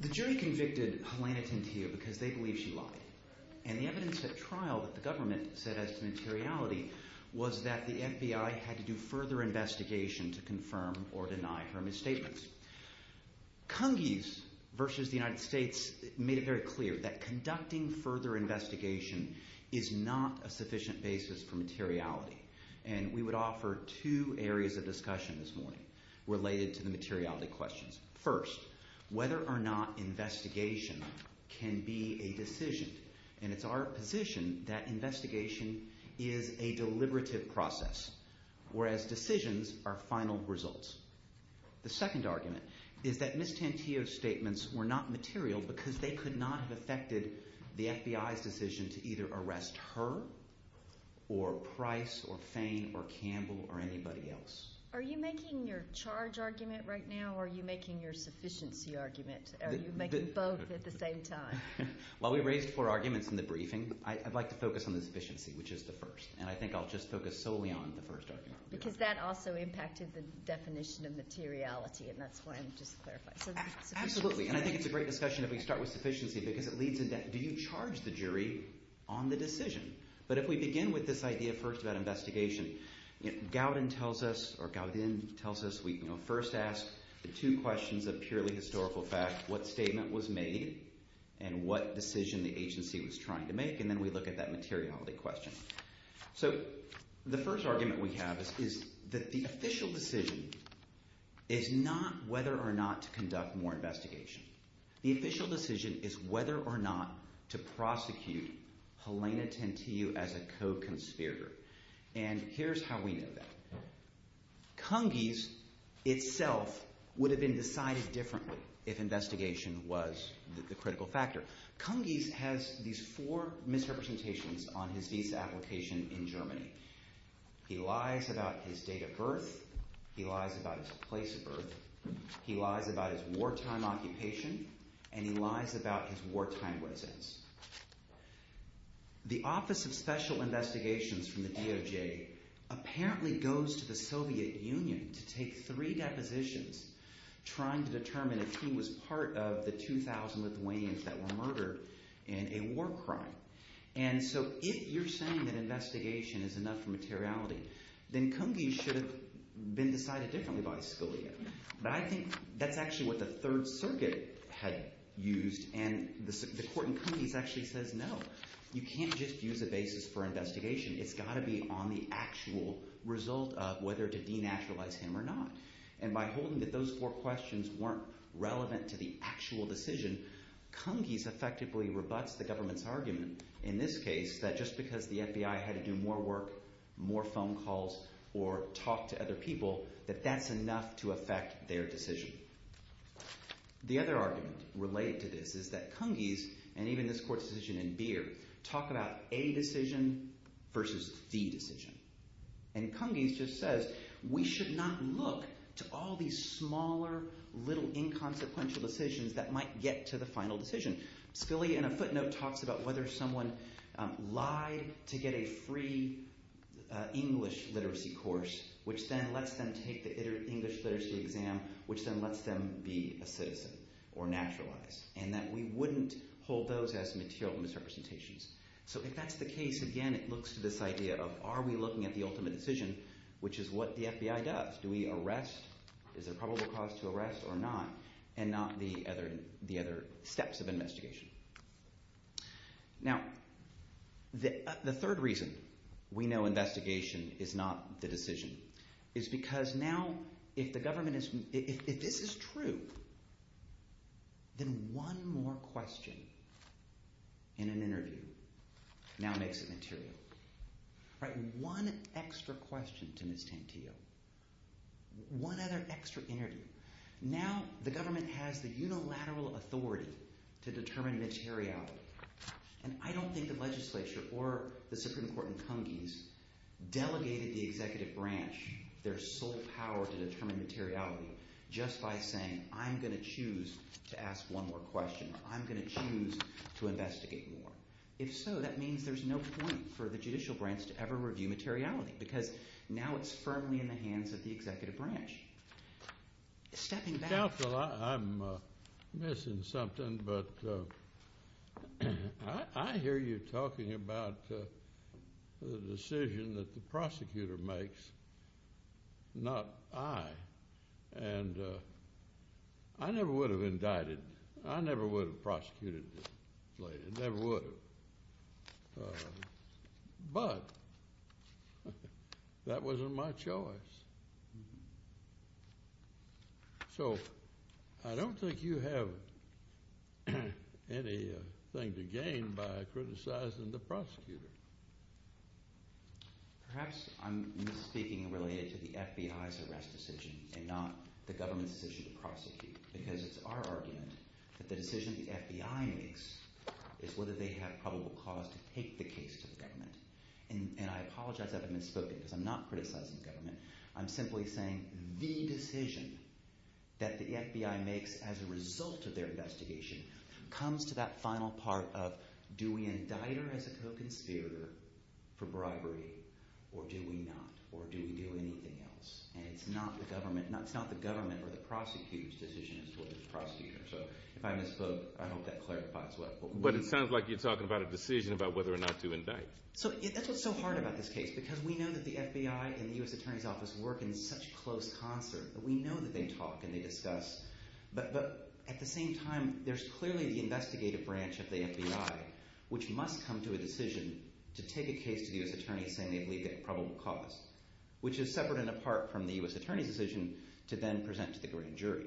The jury convicted Helena Tantillo because they believe she lied. And the evidence at trial that the government set as to materiality was that the FBI had to do further investigation to confirm or deny her misstatements. Cungies v. The United States made it very clear that conducting further investigation is not a sufficient basis for materiality. And we would offer two areas of discussion this morning related to the materiality questions. First, whether or not investigation can be a decision. And it's our position that investigation is a deliberative process, whereas decisions are final results. The second argument is that Ms. Tantillo's statements were not material because they could not have affected the FBI's decision to either arrest her or Price or Fain or Campbell or anybody else. Are you making your charge argument right now, or are you making your sufficiency argument? Are you making both at the same time? While we raised four arguments in the briefing, I'd like to focus on the sufficiency, which is the first. And I think I'll just focus solely on the first argument. Because that also impacted the definition of materiality, and that's why I'm just clarifying. Absolutely, and I think it's a great discussion if we start with sufficiency because it leads into do you charge the jury on the decision? But if we begin with this idea first about investigation, Gowdin tells us we first ask the two questions of purely historical fact, what statement was made and what decision the agency was trying to make, and then we look at that materiality question. So the first argument we have is that the official decision is not whether or not to conduct more investigation. The official decision is whether or not to prosecute Helena Tentiu as a co-conspirator. And here's how we know that. Cungies itself would have been decided differently if investigation was the critical factor. Cungies has these four misrepresentations on his visa application in Germany. He lies about his date of birth. He lies about his place of birth. He lies about his wartime occupation, and he lies about his wartime residence. The Office of Special Investigations from the DOJ apparently goes to the Soviet Union to take three depositions trying to determine if he was part of the 2,000 Lithuanians that were murdered in a war crime. And so if you're saying that investigation is enough for materiality, then Cungies should have been decided differently by Scalia. But I think that's actually what the Third Circuit had used, and the court in Cungies actually says no. You can't just use a basis for investigation. It's got to be on the actual result of whether to denaturalize him or not. And by holding that those four questions weren't relevant to the actual decision, Cungies effectively rebuts the government's argument in this case that just because the FBI had to do more work, more phone calls, or talk to other people, that that's enough to affect their decision. The other argument related to this is that Cungies and even this court's decision in Beer talk about a decision versus the decision. And Cungies just says we should not look to all these smaller little inconsequential decisions that might get to the final decision. Scalia, in a footnote, talks about whether someone lied to get a free English literacy course, which then lets them take the English literacy exam, which then lets them be a citizen or naturalize, and that we wouldn't hold those as material misrepresentations. So if that's the case, again, it looks to this idea of are we looking at the ultimate decision, which is what the FBI does? Do we arrest? Is there probable cause to arrest or not? And not the other steps of investigation. Now, the third reason we know investigation is not the decision is because now if this is true, then one more question in an interview now makes it material. One extra question to Ms. Tantillo. One other extra interview. Now the government has the unilateral authority to determine materiality. And I don't think the legislature or the Supreme Court in Cungies delegated the executive branch their sole power to determine materiality just by saying I'm going to choose to ask one more question or I'm going to choose to investigate more. If so, that means there's no point for the judicial branch to ever review materiality because now it's firmly in the hands of the executive branch. Stepping back. Counsel, I'm missing something, but I hear you talking about the decision that the prosecutor makes, not I. And I never would have indicted. I never would have prosecuted this lady. Never would have. But that wasn't my choice. So I don't think you have anything to gain by criticizing the prosecutor. Perhaps I'm misspeaking related to the FBI's arrest decision and not the government's decision to prosecute because it's our argument that the decision the FBI makes is whether they have probable cause to take the case to the government. And I apologize if I've misspoken because I'm not criticizing the government. I'm simply saying the decision that the FBI makes as a result of their investigation comes to that final part of do we indict her as a co-conspirator for bribery or do we not or do we do anything else? And it's not the government or the prosecutor's decision as to whether to prosecute her. So if I misspoke, I hope that clarifies well. But it sounds like you're talking about a decision about whether or not to indict. So that's what's so hard about this case because we know that the FBI and the U.S. Attorney's Office work in such close concert. We know that they talk and they discuss. But at the same time, there's clearly the investigative branch of the FBI which must come to a decision to take a case to the U.S. Attorney saying they believe they have probable cause, which is separate and apart from the U.S. Attorney's decision to then present to the grand jury.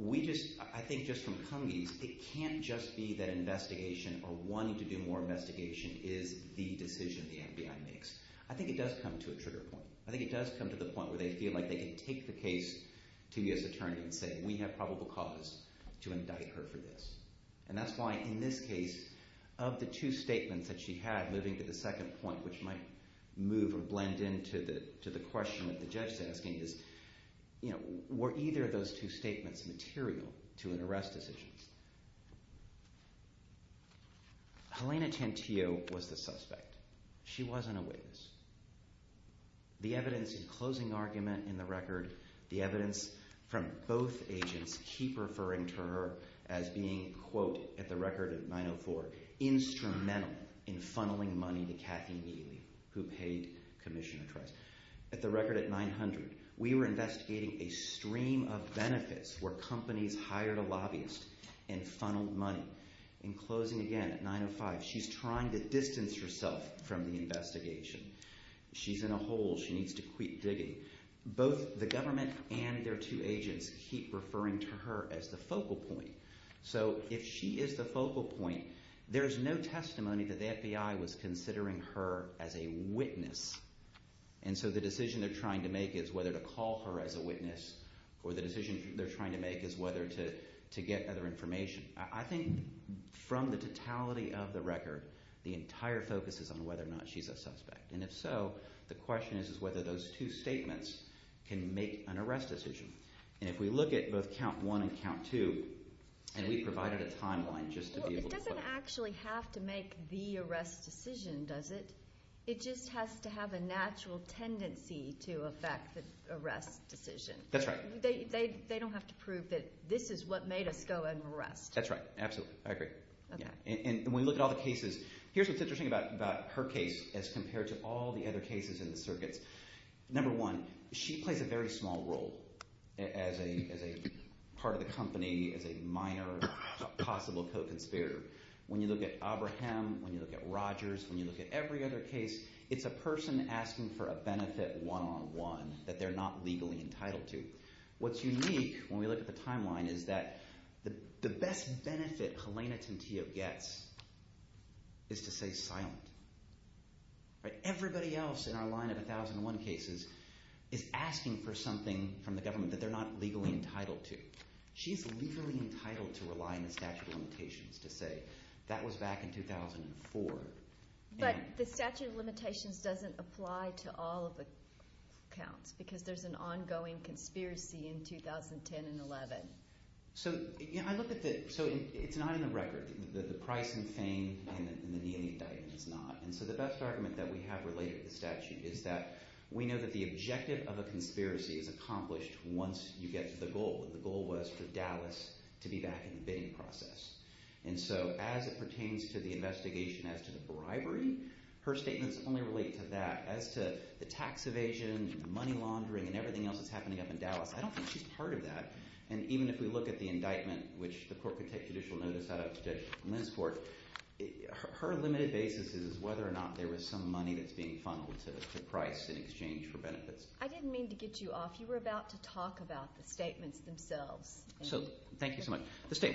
I think just from Cummings, it can't just be that investigation or wanting to do more investigation is the decision the FBI makes. I think it does come to a trigger point. I think it does come to the point where they feel like they can take the case to U.S. Attorney and say we have probable cause to indict her for this. And that's why in this case, of the two statements that she had moving to the second point, which might move or blend into the question that the judge is asking, is were either of those two statements material to an arrest decision? Helena Tantillo was the suspect. She wasn't a witness. The evidence in closing argument in the record, the evidence from both agents keep referring to her as being, quote, at the record of 904, instrumental in funneling money to Cathy Mealy who paid Commissioner Trice. At the record at 900, we were investigating a stream of benefits where companies hired a lobbyist and funneled money. In closing again at 905, she's trying to distance herself from the investigation. She's in a hole. She needs to quit digging. Both the government and their two agents keep referring to her as the focal point. So if she is the focal point, there's no testimony that the FBI was considering her as a witness and so the decision they're trying to make is whether to call her as a witness or the decision they're trying to make is whether to get other information. I think from the totality of the record, the entire focus is on whether or not she's a suspect and if so, the question is is whether those two statements can make an arrest decision. And if we look at both count one and count two, and we provided a timeline just to be able to... It doesn't actually have to make the arrest decision, does it? It just has to have a natural tendency to affect the arrest decision. That's right. They don't have to prove that this is what made us go and arrest. That's right. Absolutely. I agree. And when you look at all the cases, here's what's interesting about her case as compared to all the other cases in the circuits. Number one, she plays a very small role as a part of the company, as a minor possible co-conspirator. When you look at Abraham, when you look at Rogers, when you look at every other case, it's a person asking for a benefit one-on-one that they're not legally entitled to. What's unique when we look at the timeline is that the best benefit Helena Tintio gets is to stay silent. Everybody else in our line of 1001 cases is asking for something from the government that they're not legally entitled to. She's legally entitled to rely on the statute of limitations to say, that was back in 2004. But the statute of limitations doesn't apply to all of the counts because there's an ongoing conspiracy in 2010 and 11. So it's not in the record. The price and fame and the kneeling indictment is not. So the best argument that we have related to the statute is that we know that the objective of a conspiracy is accomplished once you get to the goal. The goal was for Dallas to be back in the bidding process. And so as it pertains to the investigation as to the bribery, her statements only relate to that. As to the tax evasion, money laundering, and everything else that's happening up in Dallas, I don't think she's part of that. And even if we look at the indictment, which the court could take judicial notice out of to the Lens Court, her limited basis is whether or not there was some money that's being funneled to Price in exchange for benefits. I didn't mean to get you off. You were about to talk about the statements themselves. Thank you so much.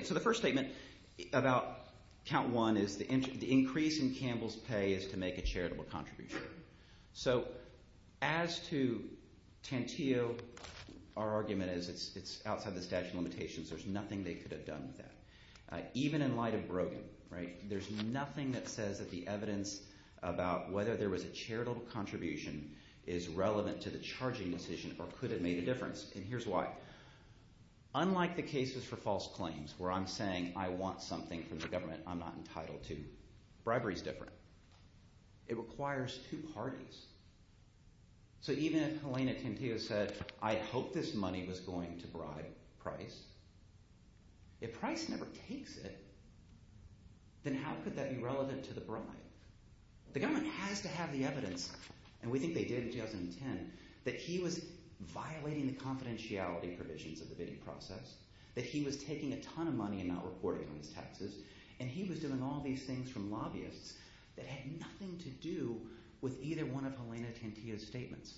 So the first statement about Count 1 is the increase in Campbell's pay is to make a charitable contribution. So as to Tantillo, our argument is it's outside the statute of limitations. There's nothing they could have done with that. Even in light of Brogan, there's nothing that says that the evidence about whether there was a charitable contribution is relevant to the charging decision or could have made a difference. And here's why. Unlike the cases for false claims where I'm saying I want something from the government I'm not entitled to, bribery is different. It requires two parties. So even if Helena Tantillo said, I hope this money was going to bribe Price, if Price never takes it, then how could that be relevant to the bribe? The government has to have the evidence, and we think they did in 2010, that he was violating the confidentiality provisions of the bidding process, that he was taking a ton of money and not reporting on his taxes, and he was doing all these things from lobbyists that had nothing to do with either one of Helena Tantillo's statements.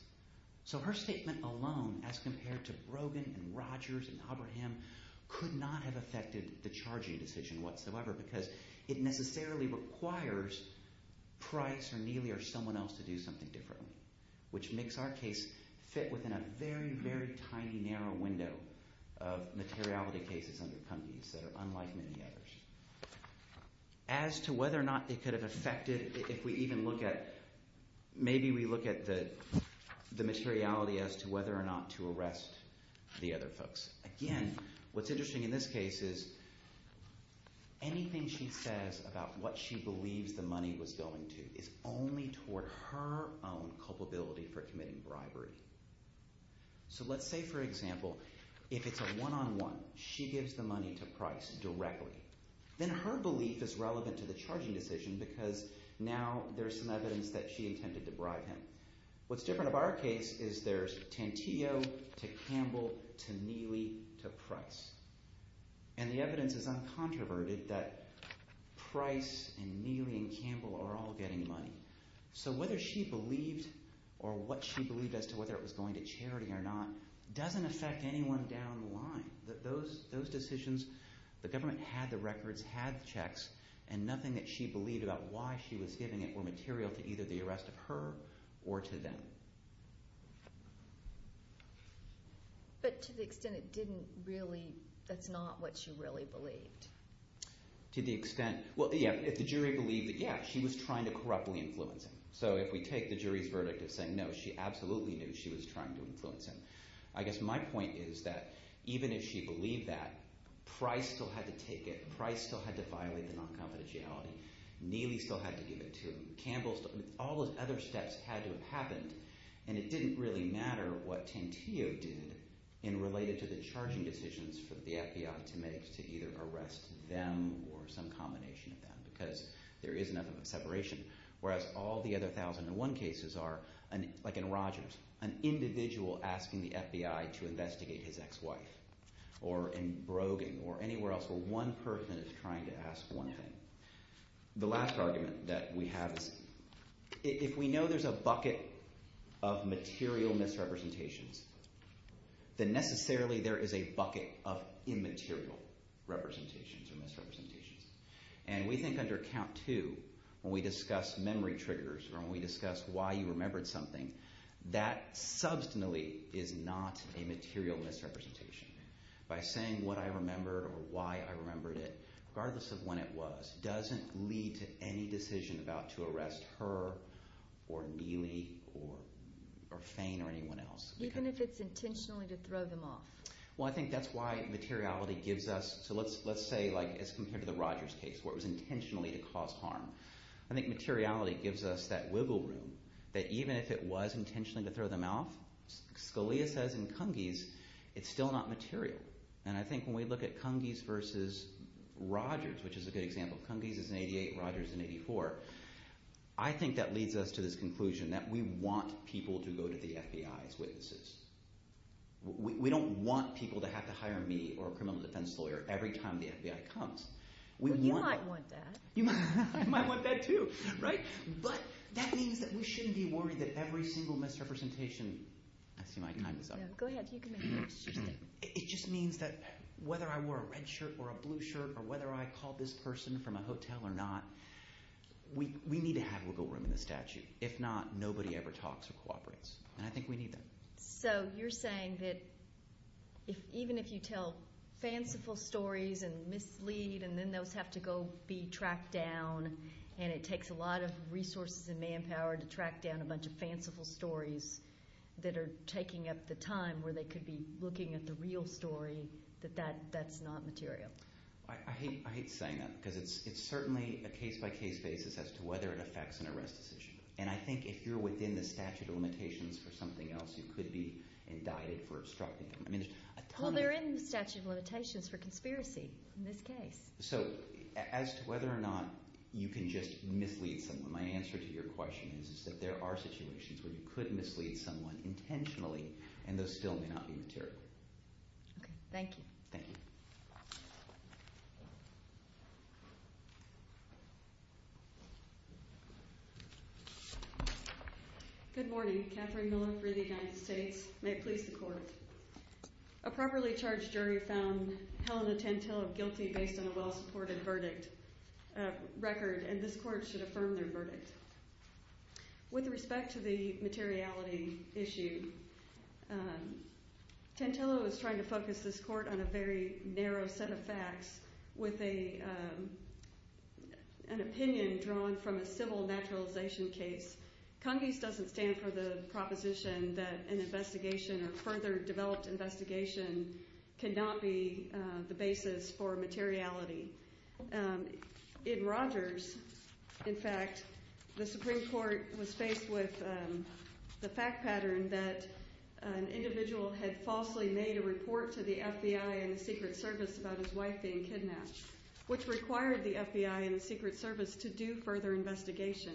So her statement alone, as compared to Brogan and Rogers and Oberheim, could not have affected the charging decision whatsoever because it necessarily requires Price or Neely or someone else to do something differently, which makes our case fit within a very, very tiny, narrow window of materiality cases under companies that are unlike many others. As to whether or not it could have affected, if we even look at, maybe we look at the materiality as to whether or not to arrest the other folks. Again, what's interesting in this case is anything she says about what she believes the money was going to is only toward her own culpability for committing bribery. So let's say, for example, if it's a one-on-one, she gives the money to Price directly, then her belief is relevant to the charging decision because now there's some evidence that she intended to bribe him. What's different about our case is there's Tantillo to Campbell to Neely to Price, and the evidence is uncontroverted that Price and Neely and Campbell are all getting money. So whether she believed, or what she believed as to whether it was going to charity or not, doesn't affect anyone down the line. Those decisions, the government had the records, had the checks, and nothing that she believed about why she was giving it were material to either the arrest of her or to them. But to the extent it didn't really, that's not what she really believed? To the extent, well, yeah, if the jury believed that, yeah, she was trying to corruptly influence him. So if we take the jury's verdict of saying no, she absolutely knew she was trying to influence him. I guess my point is that even if she believed that, Price still had to take it. Price still had to violate the non-confidentiality. Neely still had to give it to him. Campbell still, all those other steps had to have happened, and it didn't really matter what Tantillo did in related to the charging decisions for the FBI to make to either arrest them or some combination of them because there is enough of a separation, whereas all the other 1001 cases are, like in Rogers, an individual asking the FBI to investigate his ex-wife or in Brogan or anywhere else where one person is trying to ask one thing. The last argument that we have is if we know there's a bucket of material misrepresentations, then necessarily there is a bucket of immaterial representations or misrepresentations. And we think under Count 2 when we discuss memory triggers or when we discuss why you remembered something, that substantially is not a material misrepresentation. By saying what I remembered or why I remembered it, regardless of when it was, doesn't lead to any decision about to arrest her or Neely or Fain or anyone else. Even if it's intentionally to throw them off. Well, I think that's why materiality gives us, so let's say as compared to the Rogers case where it was intentionally to cause harm. I think materiality gives us that wiggle room that even if it was intentionally to throw them off, Scalia says in Cungies, it's still not material. And I think when we look at Cungies versus Rogers, which is a good example, Cungies is in 88, Rogers is in 84, I think that leads us to this conclusion that we want people to go to the FBI as witnesses. We don't want people to have to hire me or a criminal defense lawyer every time the FBI comes. Well, you might want that. You might want that too, right? But that means that we shouldn't be worried that every single misrepresentation... I see my time is up. No, go ahead, you can make it. It just means that whether I wore a red shirt or a blue shirt or whether I called this person from a hotel or not, we need to have wiggle room in the statute. If not, nobody ever talks or cooperates. And I think we need that. So you're saying that even if you tell fanciful stories and mislead and then those have to go be tracked down and it takes a lot of resources and manpower to track down a bunch of fanciful stories that are taking up the time where they could be looking at the real story, that that's not material. I hate saying that, because it's certainly a case-by-case basis as to whether it affects an arrest decision. And I think if you're within the statute of limitations for something else, you could be indicted for obstructing them. Well, they're in the statute of limitations for conspiracy in this case. So as to whether or not you can just mislead someone, my answer to your question is that there are situations where you could mislead someone intentionally Okay, thank you. Thank you. Thank you. Good morning. Catherine Miller for the United States. May it please the court. A properly charged jury found Helena Tantello guilty based on a well-supported verdict record, and this court should affirm their verdict. With respect to the materiality issue, Tantello is trying to focus this court on a very narrow set of facts with an opinion drawn from a civil naturalization case. Congress doesn't stand for the proposition that an investigation or further developed investigation cannot be the basis for materiality. In Rogers, in fact, the Supreme Court was faced with the fact pattern that an individual had falsely made a report to the FBI and the Secret Service about his wife being kidnapped, which required the FBI and the Secret Service to do further investigation.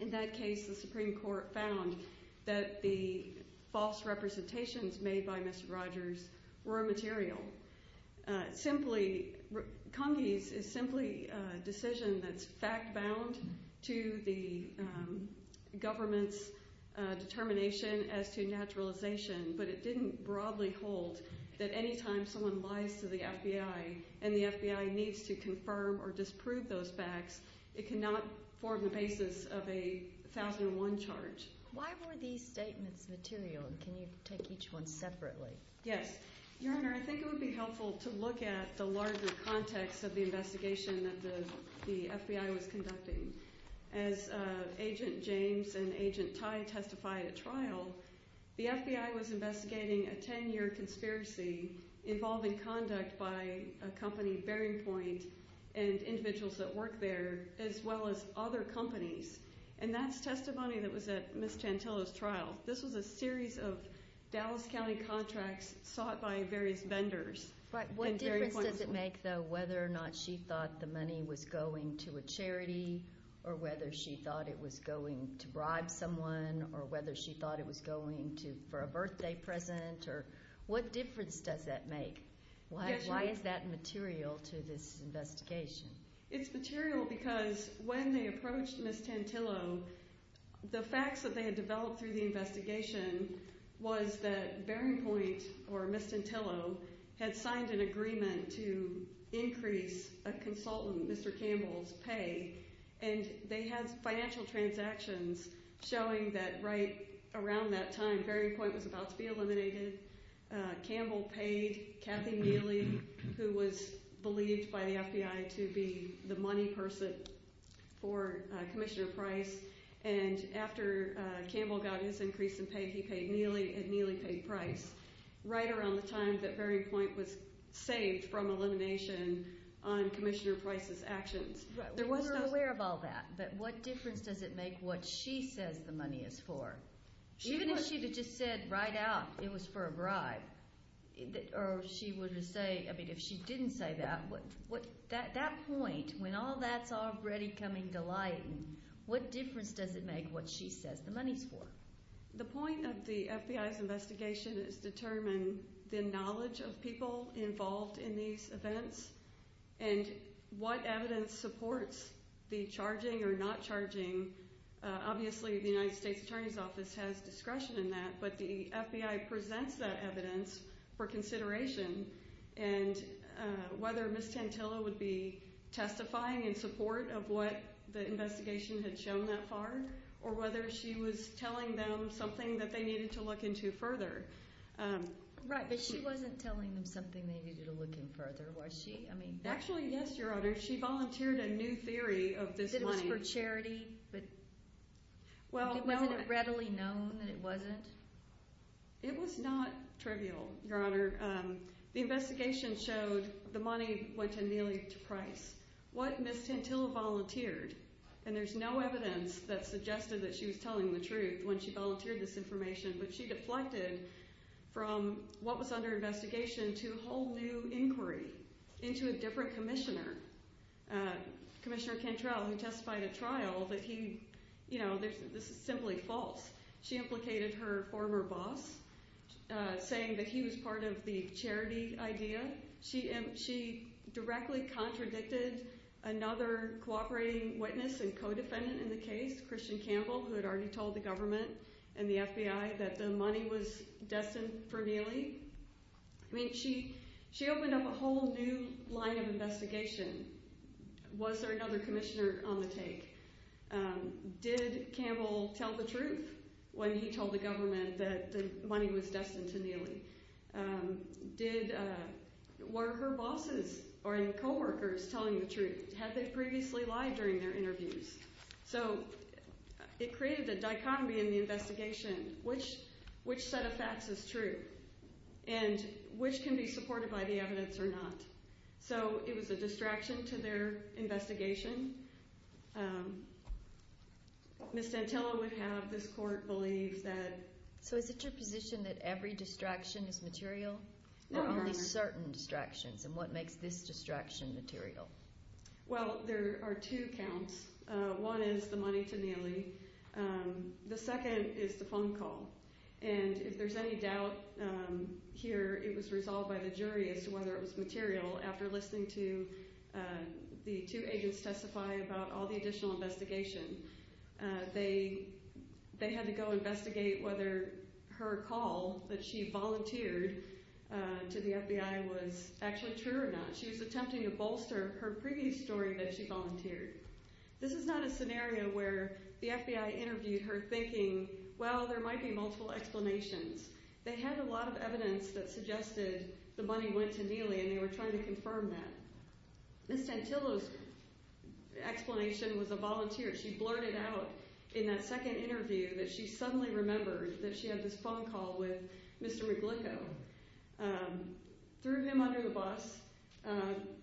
In that case, the Supreme Court found that the false representations made by Mr. Rogers were immaterial. Congies is simply a decision that's fact-bound to the government's determination as to naturalization, but it didn't broadly hold that any time someone lies to the FBI and the FBI needs to confirm or disprove those facts, it cannot form the basis of a 1001 charge. Why were these statements material? Can you take each one separately? Yes. Your Honor, I think it would be helpful to look at the larger context of the investigation that the FBI was conducting. As Agent James and Agent Tai testified at trial, the FBI was investigating a 10-year conspiracy involving conduct by a company, Bearing Point, and individuals that work there, as well as other companies, and that's testimony that was at Ms. Tantillo's trial. This was a series of Dallas County contracts sought by various vendors. But what difference does it make, though, whether or not she thought the money was going to a charity or whether she thought it was going to bribe someone or whether she thought it was going for a birthday present? What difference does that make? Why is that material to this investigation? It's material because when they approached Ms. Tantillo, the facts that they had developed through the investigation was that Bearing Point or Ms. Tantillo had signed an agreement to increase a consultant, Mr. Campbell's, pay, and they had financial transactions showing that right around that time, Bearing Point was about to be eliminated, Campbell paid Kathy Neely, who was believed by the FBI to be the money person for Commissioner Price, and after Campbell got his increase in pay, he paid Neely and Neely paid Price right around the time that Bearing Point was saved from elimination on Commissioner Price's actions. We're aware of all that, but what difference does it make what she says the money is for? Even if she had just said right out it was for a bribe or she would have said, I mean, if she didn't say that, at that point, when all that's already coming to light, what difference does it make what she says the money's for? The point of the FBI's investigation is to determine the knowledge of people involved in these events and what evidence supports the charging or not charging. Obviously, the United States Attorney's Office has discretion in that, but the FBI presents that evidence for consideration and whether Ms. Tantillo would be testifying in support of what the investigation had shown that far or whether she was telling them something that they needed to look into further. Right, but she wasn't telling them something they needed to look into further, was she? Actually, yes, Your Honor. She volunteered a new theory of this money. That it was for charity, but wasn't it readily known that it wasn't? It was not trivial, Your Honor. The investigation showed the money went to Neely to Price. What Ms. Tantillo volunteered, and there's no evidence that suggested that she was telling the truth when she volunteered this information, but she deflected from what was under investigation to a whole new inquiry into a different commissioner, Commissioner Cantrell, who testified at trial that this is simply false. She implicated her former boss, saying that he was part of the charity idea. She directly contradicted another cooperating witness and co-defendant in the case, Christian Campbell, who had already told the government and the FBI that the money was destined for Neely. I mean, she opened up a whole new line of investigation. Was there another commissioner on the take? Did Campbell tell the truth when he told the government that the money was destined to Neely? Were her bosses or co-workers telling the truth? Had they previously lied during their interviews? So it created a dichotomy in the investigation, which set of facts is true and which can be supported by the evidence or not. So it was a distraction to their investigation. Ms. Tantillo would have this court believe that. So is it your position that every distraction is material? Only certain distractions, and what makes this distraction material? Well, there are two counts. One is the money to Neely. The second is the phone call. And if there's any doubt here, it was resolved by the jury as to whether it was material after listening to the two agents testify about all the additional investigation. They had to go investigate whether her call that she volunteered to the FBI was actually true or not. She was attempting to bolster her previous story that she volunteered. This is not a scenario where the FBI interviewed her thinking, well, there might be multiple explanations. They had a lot of evidence that suggested the money went to Neely, and they were trying to confirm that. Ms. Tantillo's explanation was a volunteer. She blurted out in that second interview that she suddenly remembered that she had this phone call with Mr. Reglico. Threw him under the bus,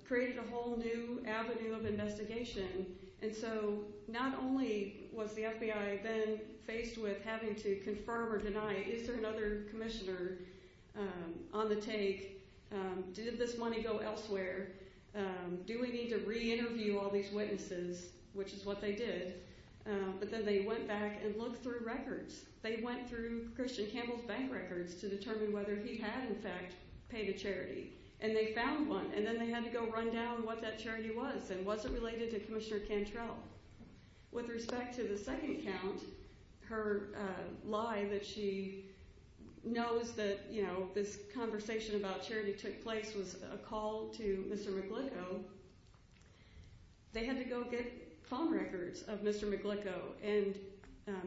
created a whole new avenue of investigation. And so not only was the FBI then faced with having to confirm or deny, is there another commissioner on the take, did this money go elsewhere, do we need to re-interview all these witnesses, which is what they did. But then they went back and looked through records. They went through Christian Campbell's bank records to determine whether he had, in fact, paid a charity. And they found one, and then they had to go run down what that charity was and was it related to Commissioner Cantrell. With respect to the second account, her lie that she knows that this conversation about charity took place was a call to Mr. Reglico, they had to go get phone records of Mr. Reglico and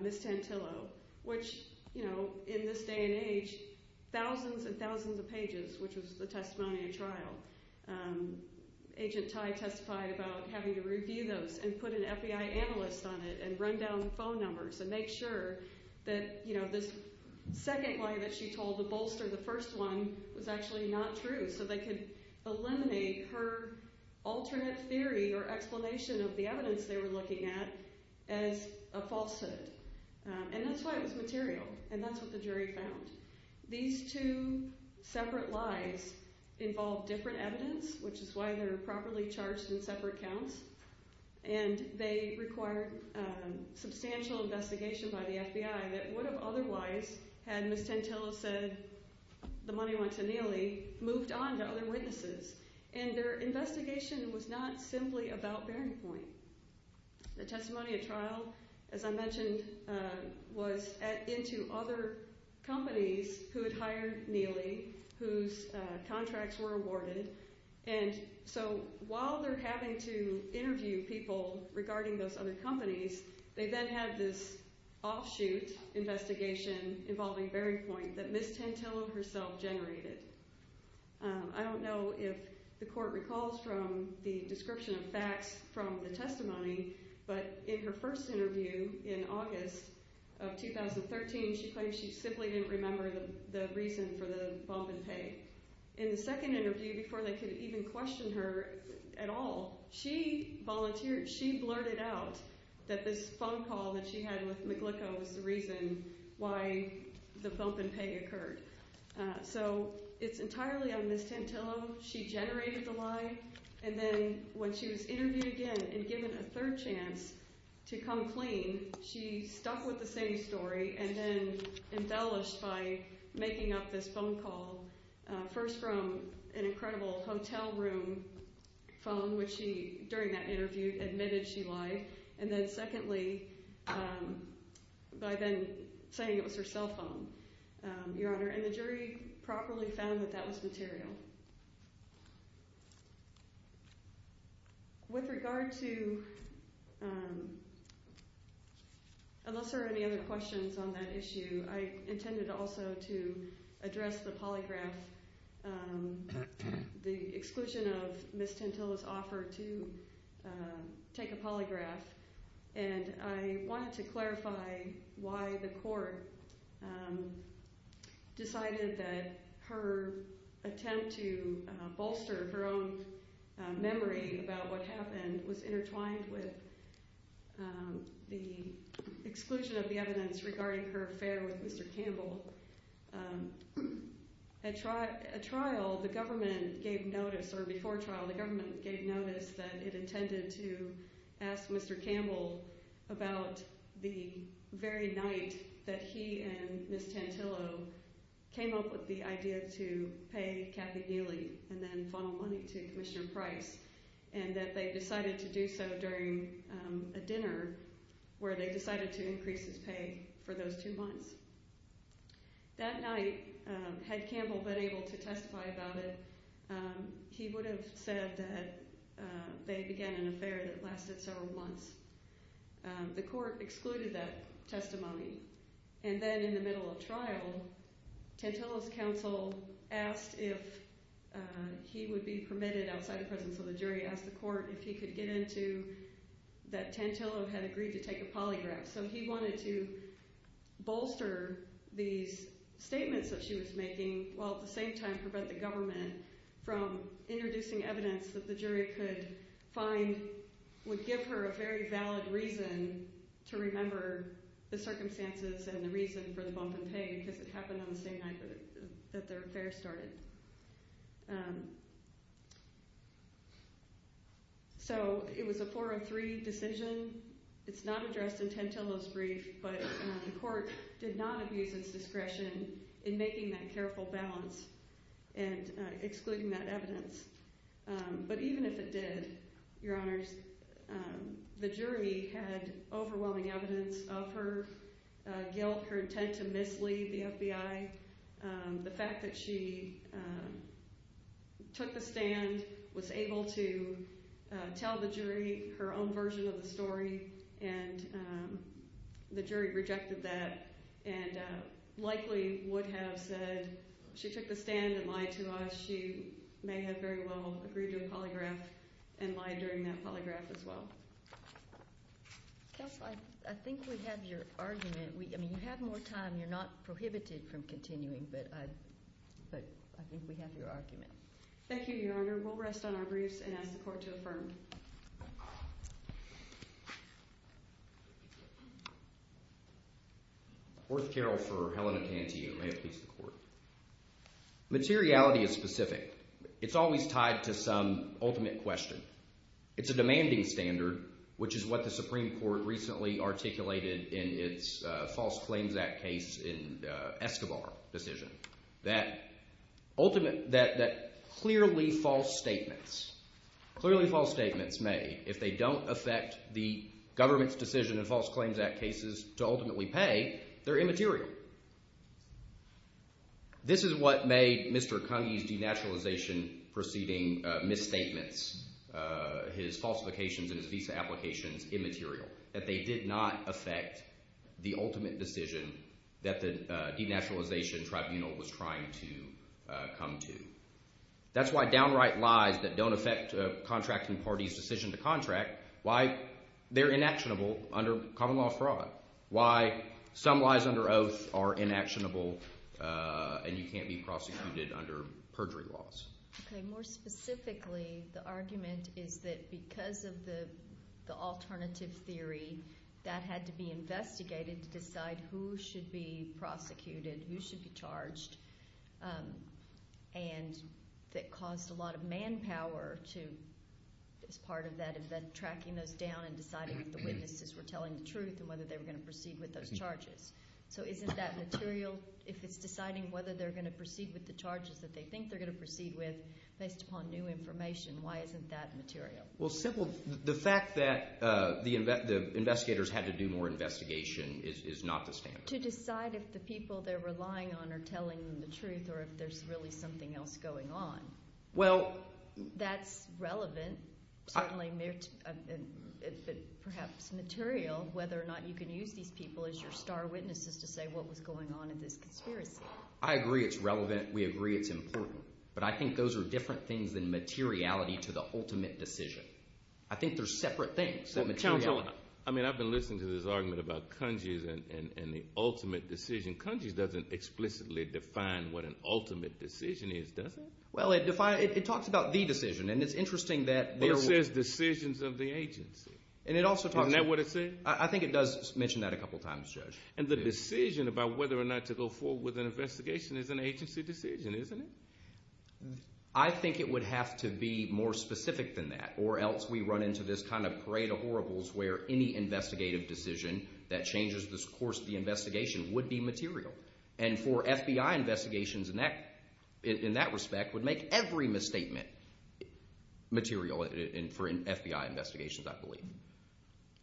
Ms. Tantillo, which in this day and age, thousands and thousands of pages, which was the testimony of trial. Agent Tai testified about having to review those and put an FBI analyst on it and run down phone numbers and make sure that this second lie that she told, the bolster, the first one, was actually not true so they could eliminate her alternate theory or explanation of the evidence they were looking at as a falsehood. And that's why it was material, and that's what the jury found. These two separate lies involved different evidence, which is why they're properly charged in separate counts, and they required substantial investigation by the FBI that would have otherwise had Ms. Tantillo said the money went to Neely, they moved on to other witnesses, and their investigation was not simply about Bearing Point. The testimony of trial, as I mentioned, was into other companies who had hired Neely, whose contracts were awarded, and so while they're having to interview people regarding those other companies, they then have this offshoot investigation involving Bearing Point that Ms. Tantillo herself generated. I don't know if the court recalls from the description of facts from the testimony, but in her first interview in August of 2013, she claims she simply didn't remember the reason for the bump in pay. In the second interview, before they could even question her at all, she volunteered, she blurted out that this phone call that she had with McGlicko was the reason why the bump in pay occurred. So it's entirely on Ms. Tantillo. She generated the lie, and then when she was interviewed again and given a third chance to come clean, she stuck with the same story and then embellished by making up this phone call, first from an incredible hotel room phone, which she, during that interview, admitted she lied, and then secondly by then saying it was her cell phone, Your Honor, and the jury properly found that that was material. With regard to, unless there are any other questions on that issue, I intended also to address the polygraph, the exclusion of Ms. Tantillo's offer to take a polygraph, and I wanted to clarify why the court decided that her attempt to bolster her own memory about what happened was intertwined with the exclusion of the evidence regarding her affair with Mr. Campbell. At trial, the government gave notice, or before trial, the government gave notice that it intended to ask Mr. Campbell about the very night that he and Ms. Tantillo came up with the idea to pay Kathy Neely and then funnel money to Commissioner Price, and that they decided to do so during a dinner where they decided to increase his pay for those two months. That night, had Campbell been able to testify about it, he would have said that they began an affair that lasted several months. The court excluded that testimony, and then in the middle of trial, Tantillo's counsel asked if he would be permitted outside the presence of the jury, asked the court if he could get into that Tantillo had agreed to take a polygraph, so he wanted to bolster these statements that she was making while at the same time prevent the government from introducing evidence that the jury could find would give her a very valid reason to remember the circumstances and the reason for the bump in pay because it happened on the same night that their affair started. So it was a 4-3 decision. It's not addressed in Tantillo's brief, but the court did not abuse its discretion in making that careful balance and excluding that evidence. But even if it did, Your Honors, the jury had overwhelming evidence of her guilt, her intent to mislead the FBI, the fact that she took the stand, was able to tell the jury her own version of the story, and the jury rejected that and likely would have said she took the stand and lied to us. She may have very well agreed to a polygraph and lied during that polygraph as well. Counsel, I think we have your argument. I mean, you have more time. You're not prohibited from continuing, but I think we have your argument. Thank you, Your Honor. We'll rest on our briefs and ask the court to affirm. Worth Carroll for Helena Tantillo. May it please the court. Materiality is specific. It's always tied to some ultimate question. It's a demanding standard, which is what the Supreme Court recently articulated in its False Claims Act case in Escobar decision. That clearly false statements, clearly false statements made, if they don't affect the government's decision in False Claims Act cases to ultimately pay, they're immaterial. This is what made Mr. Kangee's denaturalization proceeding misstatements, his falsifications and his visa applications immaterial, that they did not affect the ultimate decision that the denaturalization tribunal was trying to come to. That's why downright lies that don't affect a contracting party's decision to contract, why they're inactionable under common law fraud, why some lies under oath are inactionable and you can't be prosecuted under perjury laws. Okay. More specifically, the argument is that because of the alternative theory, that had to be investigated to decide who should be prosecuted, who should be charged, and that caused a lot of manpower to, as part of that event, tracking those down and deciding if the witnesses were telling the truth and whether they were going to proceed with those charges. If it's deciding whether they're going to proceed with the charges that they think they're going to proceed with based upon new information, why isn't that material? Well, simple. The fact that the investigators had to do more investigation is not the standard. To decide if the people they're relying on are telling the truth or if there's really something else going on, that's relevant, certainly perhaps material, whether or not you can use these people as your star witnesses to say what was going on in this conspiracy. I agree it's relevant. We agree it's important. But I think those are different things than materiality to the ultimate decision. I think they're separate things than materiality. Well, counsel, I mean I've been listening to this argument about Kunji's and the ultimate decision. Kunji's doesn't explicitly define what an ultimate decision is, does it? Well, it talks about the decision, and it's interesting that there were— But it says decisions of the agency. And it also talks about— Isn't that what it said? I think it does mention that a couple times, Judge. And the decision about whether or not to go forward with an investigation is an agency decision, isn't it? I think it would have to be more specific than that, or else we run into this kind of parade of horribles where any investigative decision that changes the course of the investigation would be material. And for FBI investigations, in that respect, would make every misstatement material for FBI investigations, I believe.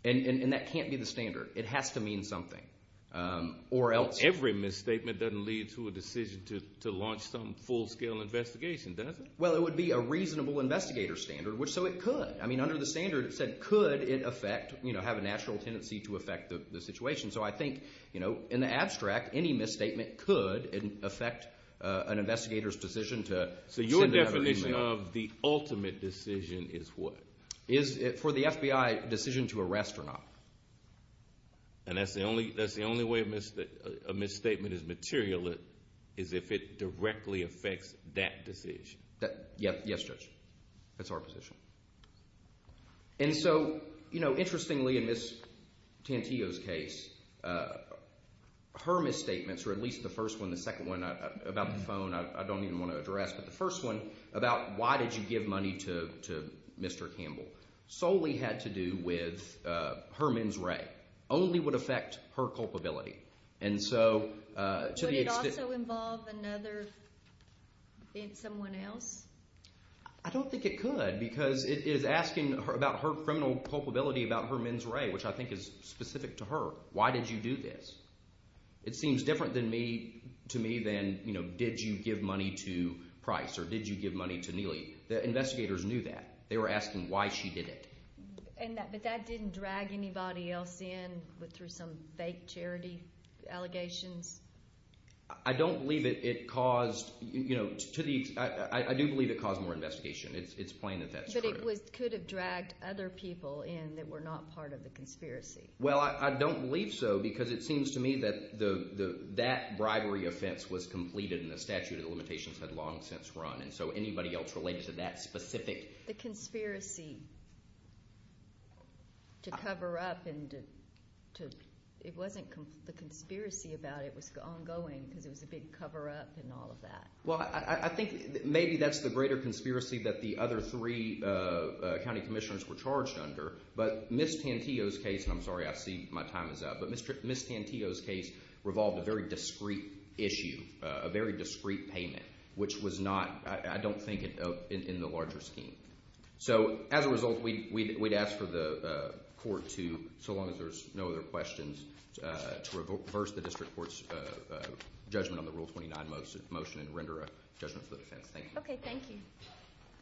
And that can't be the standard. It has to mean something, or else— Well, every misstatement doesn't lead to a decision to launch some full-scale investigation, does it? Well, it would be a reasonable investigator standard, so it could. I mean, under the standard, it said could it affect— have a natural tendency to affect the situation. So I think, in the abstract, any misstatement could affect an investigator's decision to— So your definition of the ultimate decision is what? For the FBI decision to arrest or not. And that's the only way a misstatement is material, is if it directly affects that decision? Yes, Judge. That's our position. And so, interestingly, in Ms. Tantillo's case, her misstatements, or at least the first one, the second one, about the phone I don't even want to address, but the first one, about why did you give money to Mr. Campbell, solely had to do with her mens rea. Only would affect her culpability. And so, to the extent— Would it also involve another, someone else? I don't think it could, because it is asking about her criminal culpability, about her mens rea, which I think is specific to her. It seems different to me than, you know, did you give money to Price or did you give money to Neely? The investigators knew that. They were asking why she did it. But that didn't drag anybody else in through some fake charity allegations? I don't believe it caused— I do believe it caused more investigation. It's plain that that's true. But it could have dragged other people in that were not part of the conspiracy. Well, I don't believe so, because it seems to me that that bribery offense was completed in the statute of limitations that had long since run. And so anybody else related to that specific— The conspiracy to cover up and to— It wasn't the conspiracy about it. It was ongoing because it was a big cover-up and all of that. Well, I think maybe that's the greater conspiracy that the other three county commissioners were charged under. But Ms. Tantillo's case—and I'm sorry, I see my time is up. But Ms. Tantillo's case revolved a very discreet issue, a very discreet payment, which was not, I don't think, in the larger scheme. So as a result, we'd ask for the court to, so long as there's no other questions, to reverse the district court's judgment on the Rule 29 motion and render a judgment for the defense. Thank you. Okay, thank you.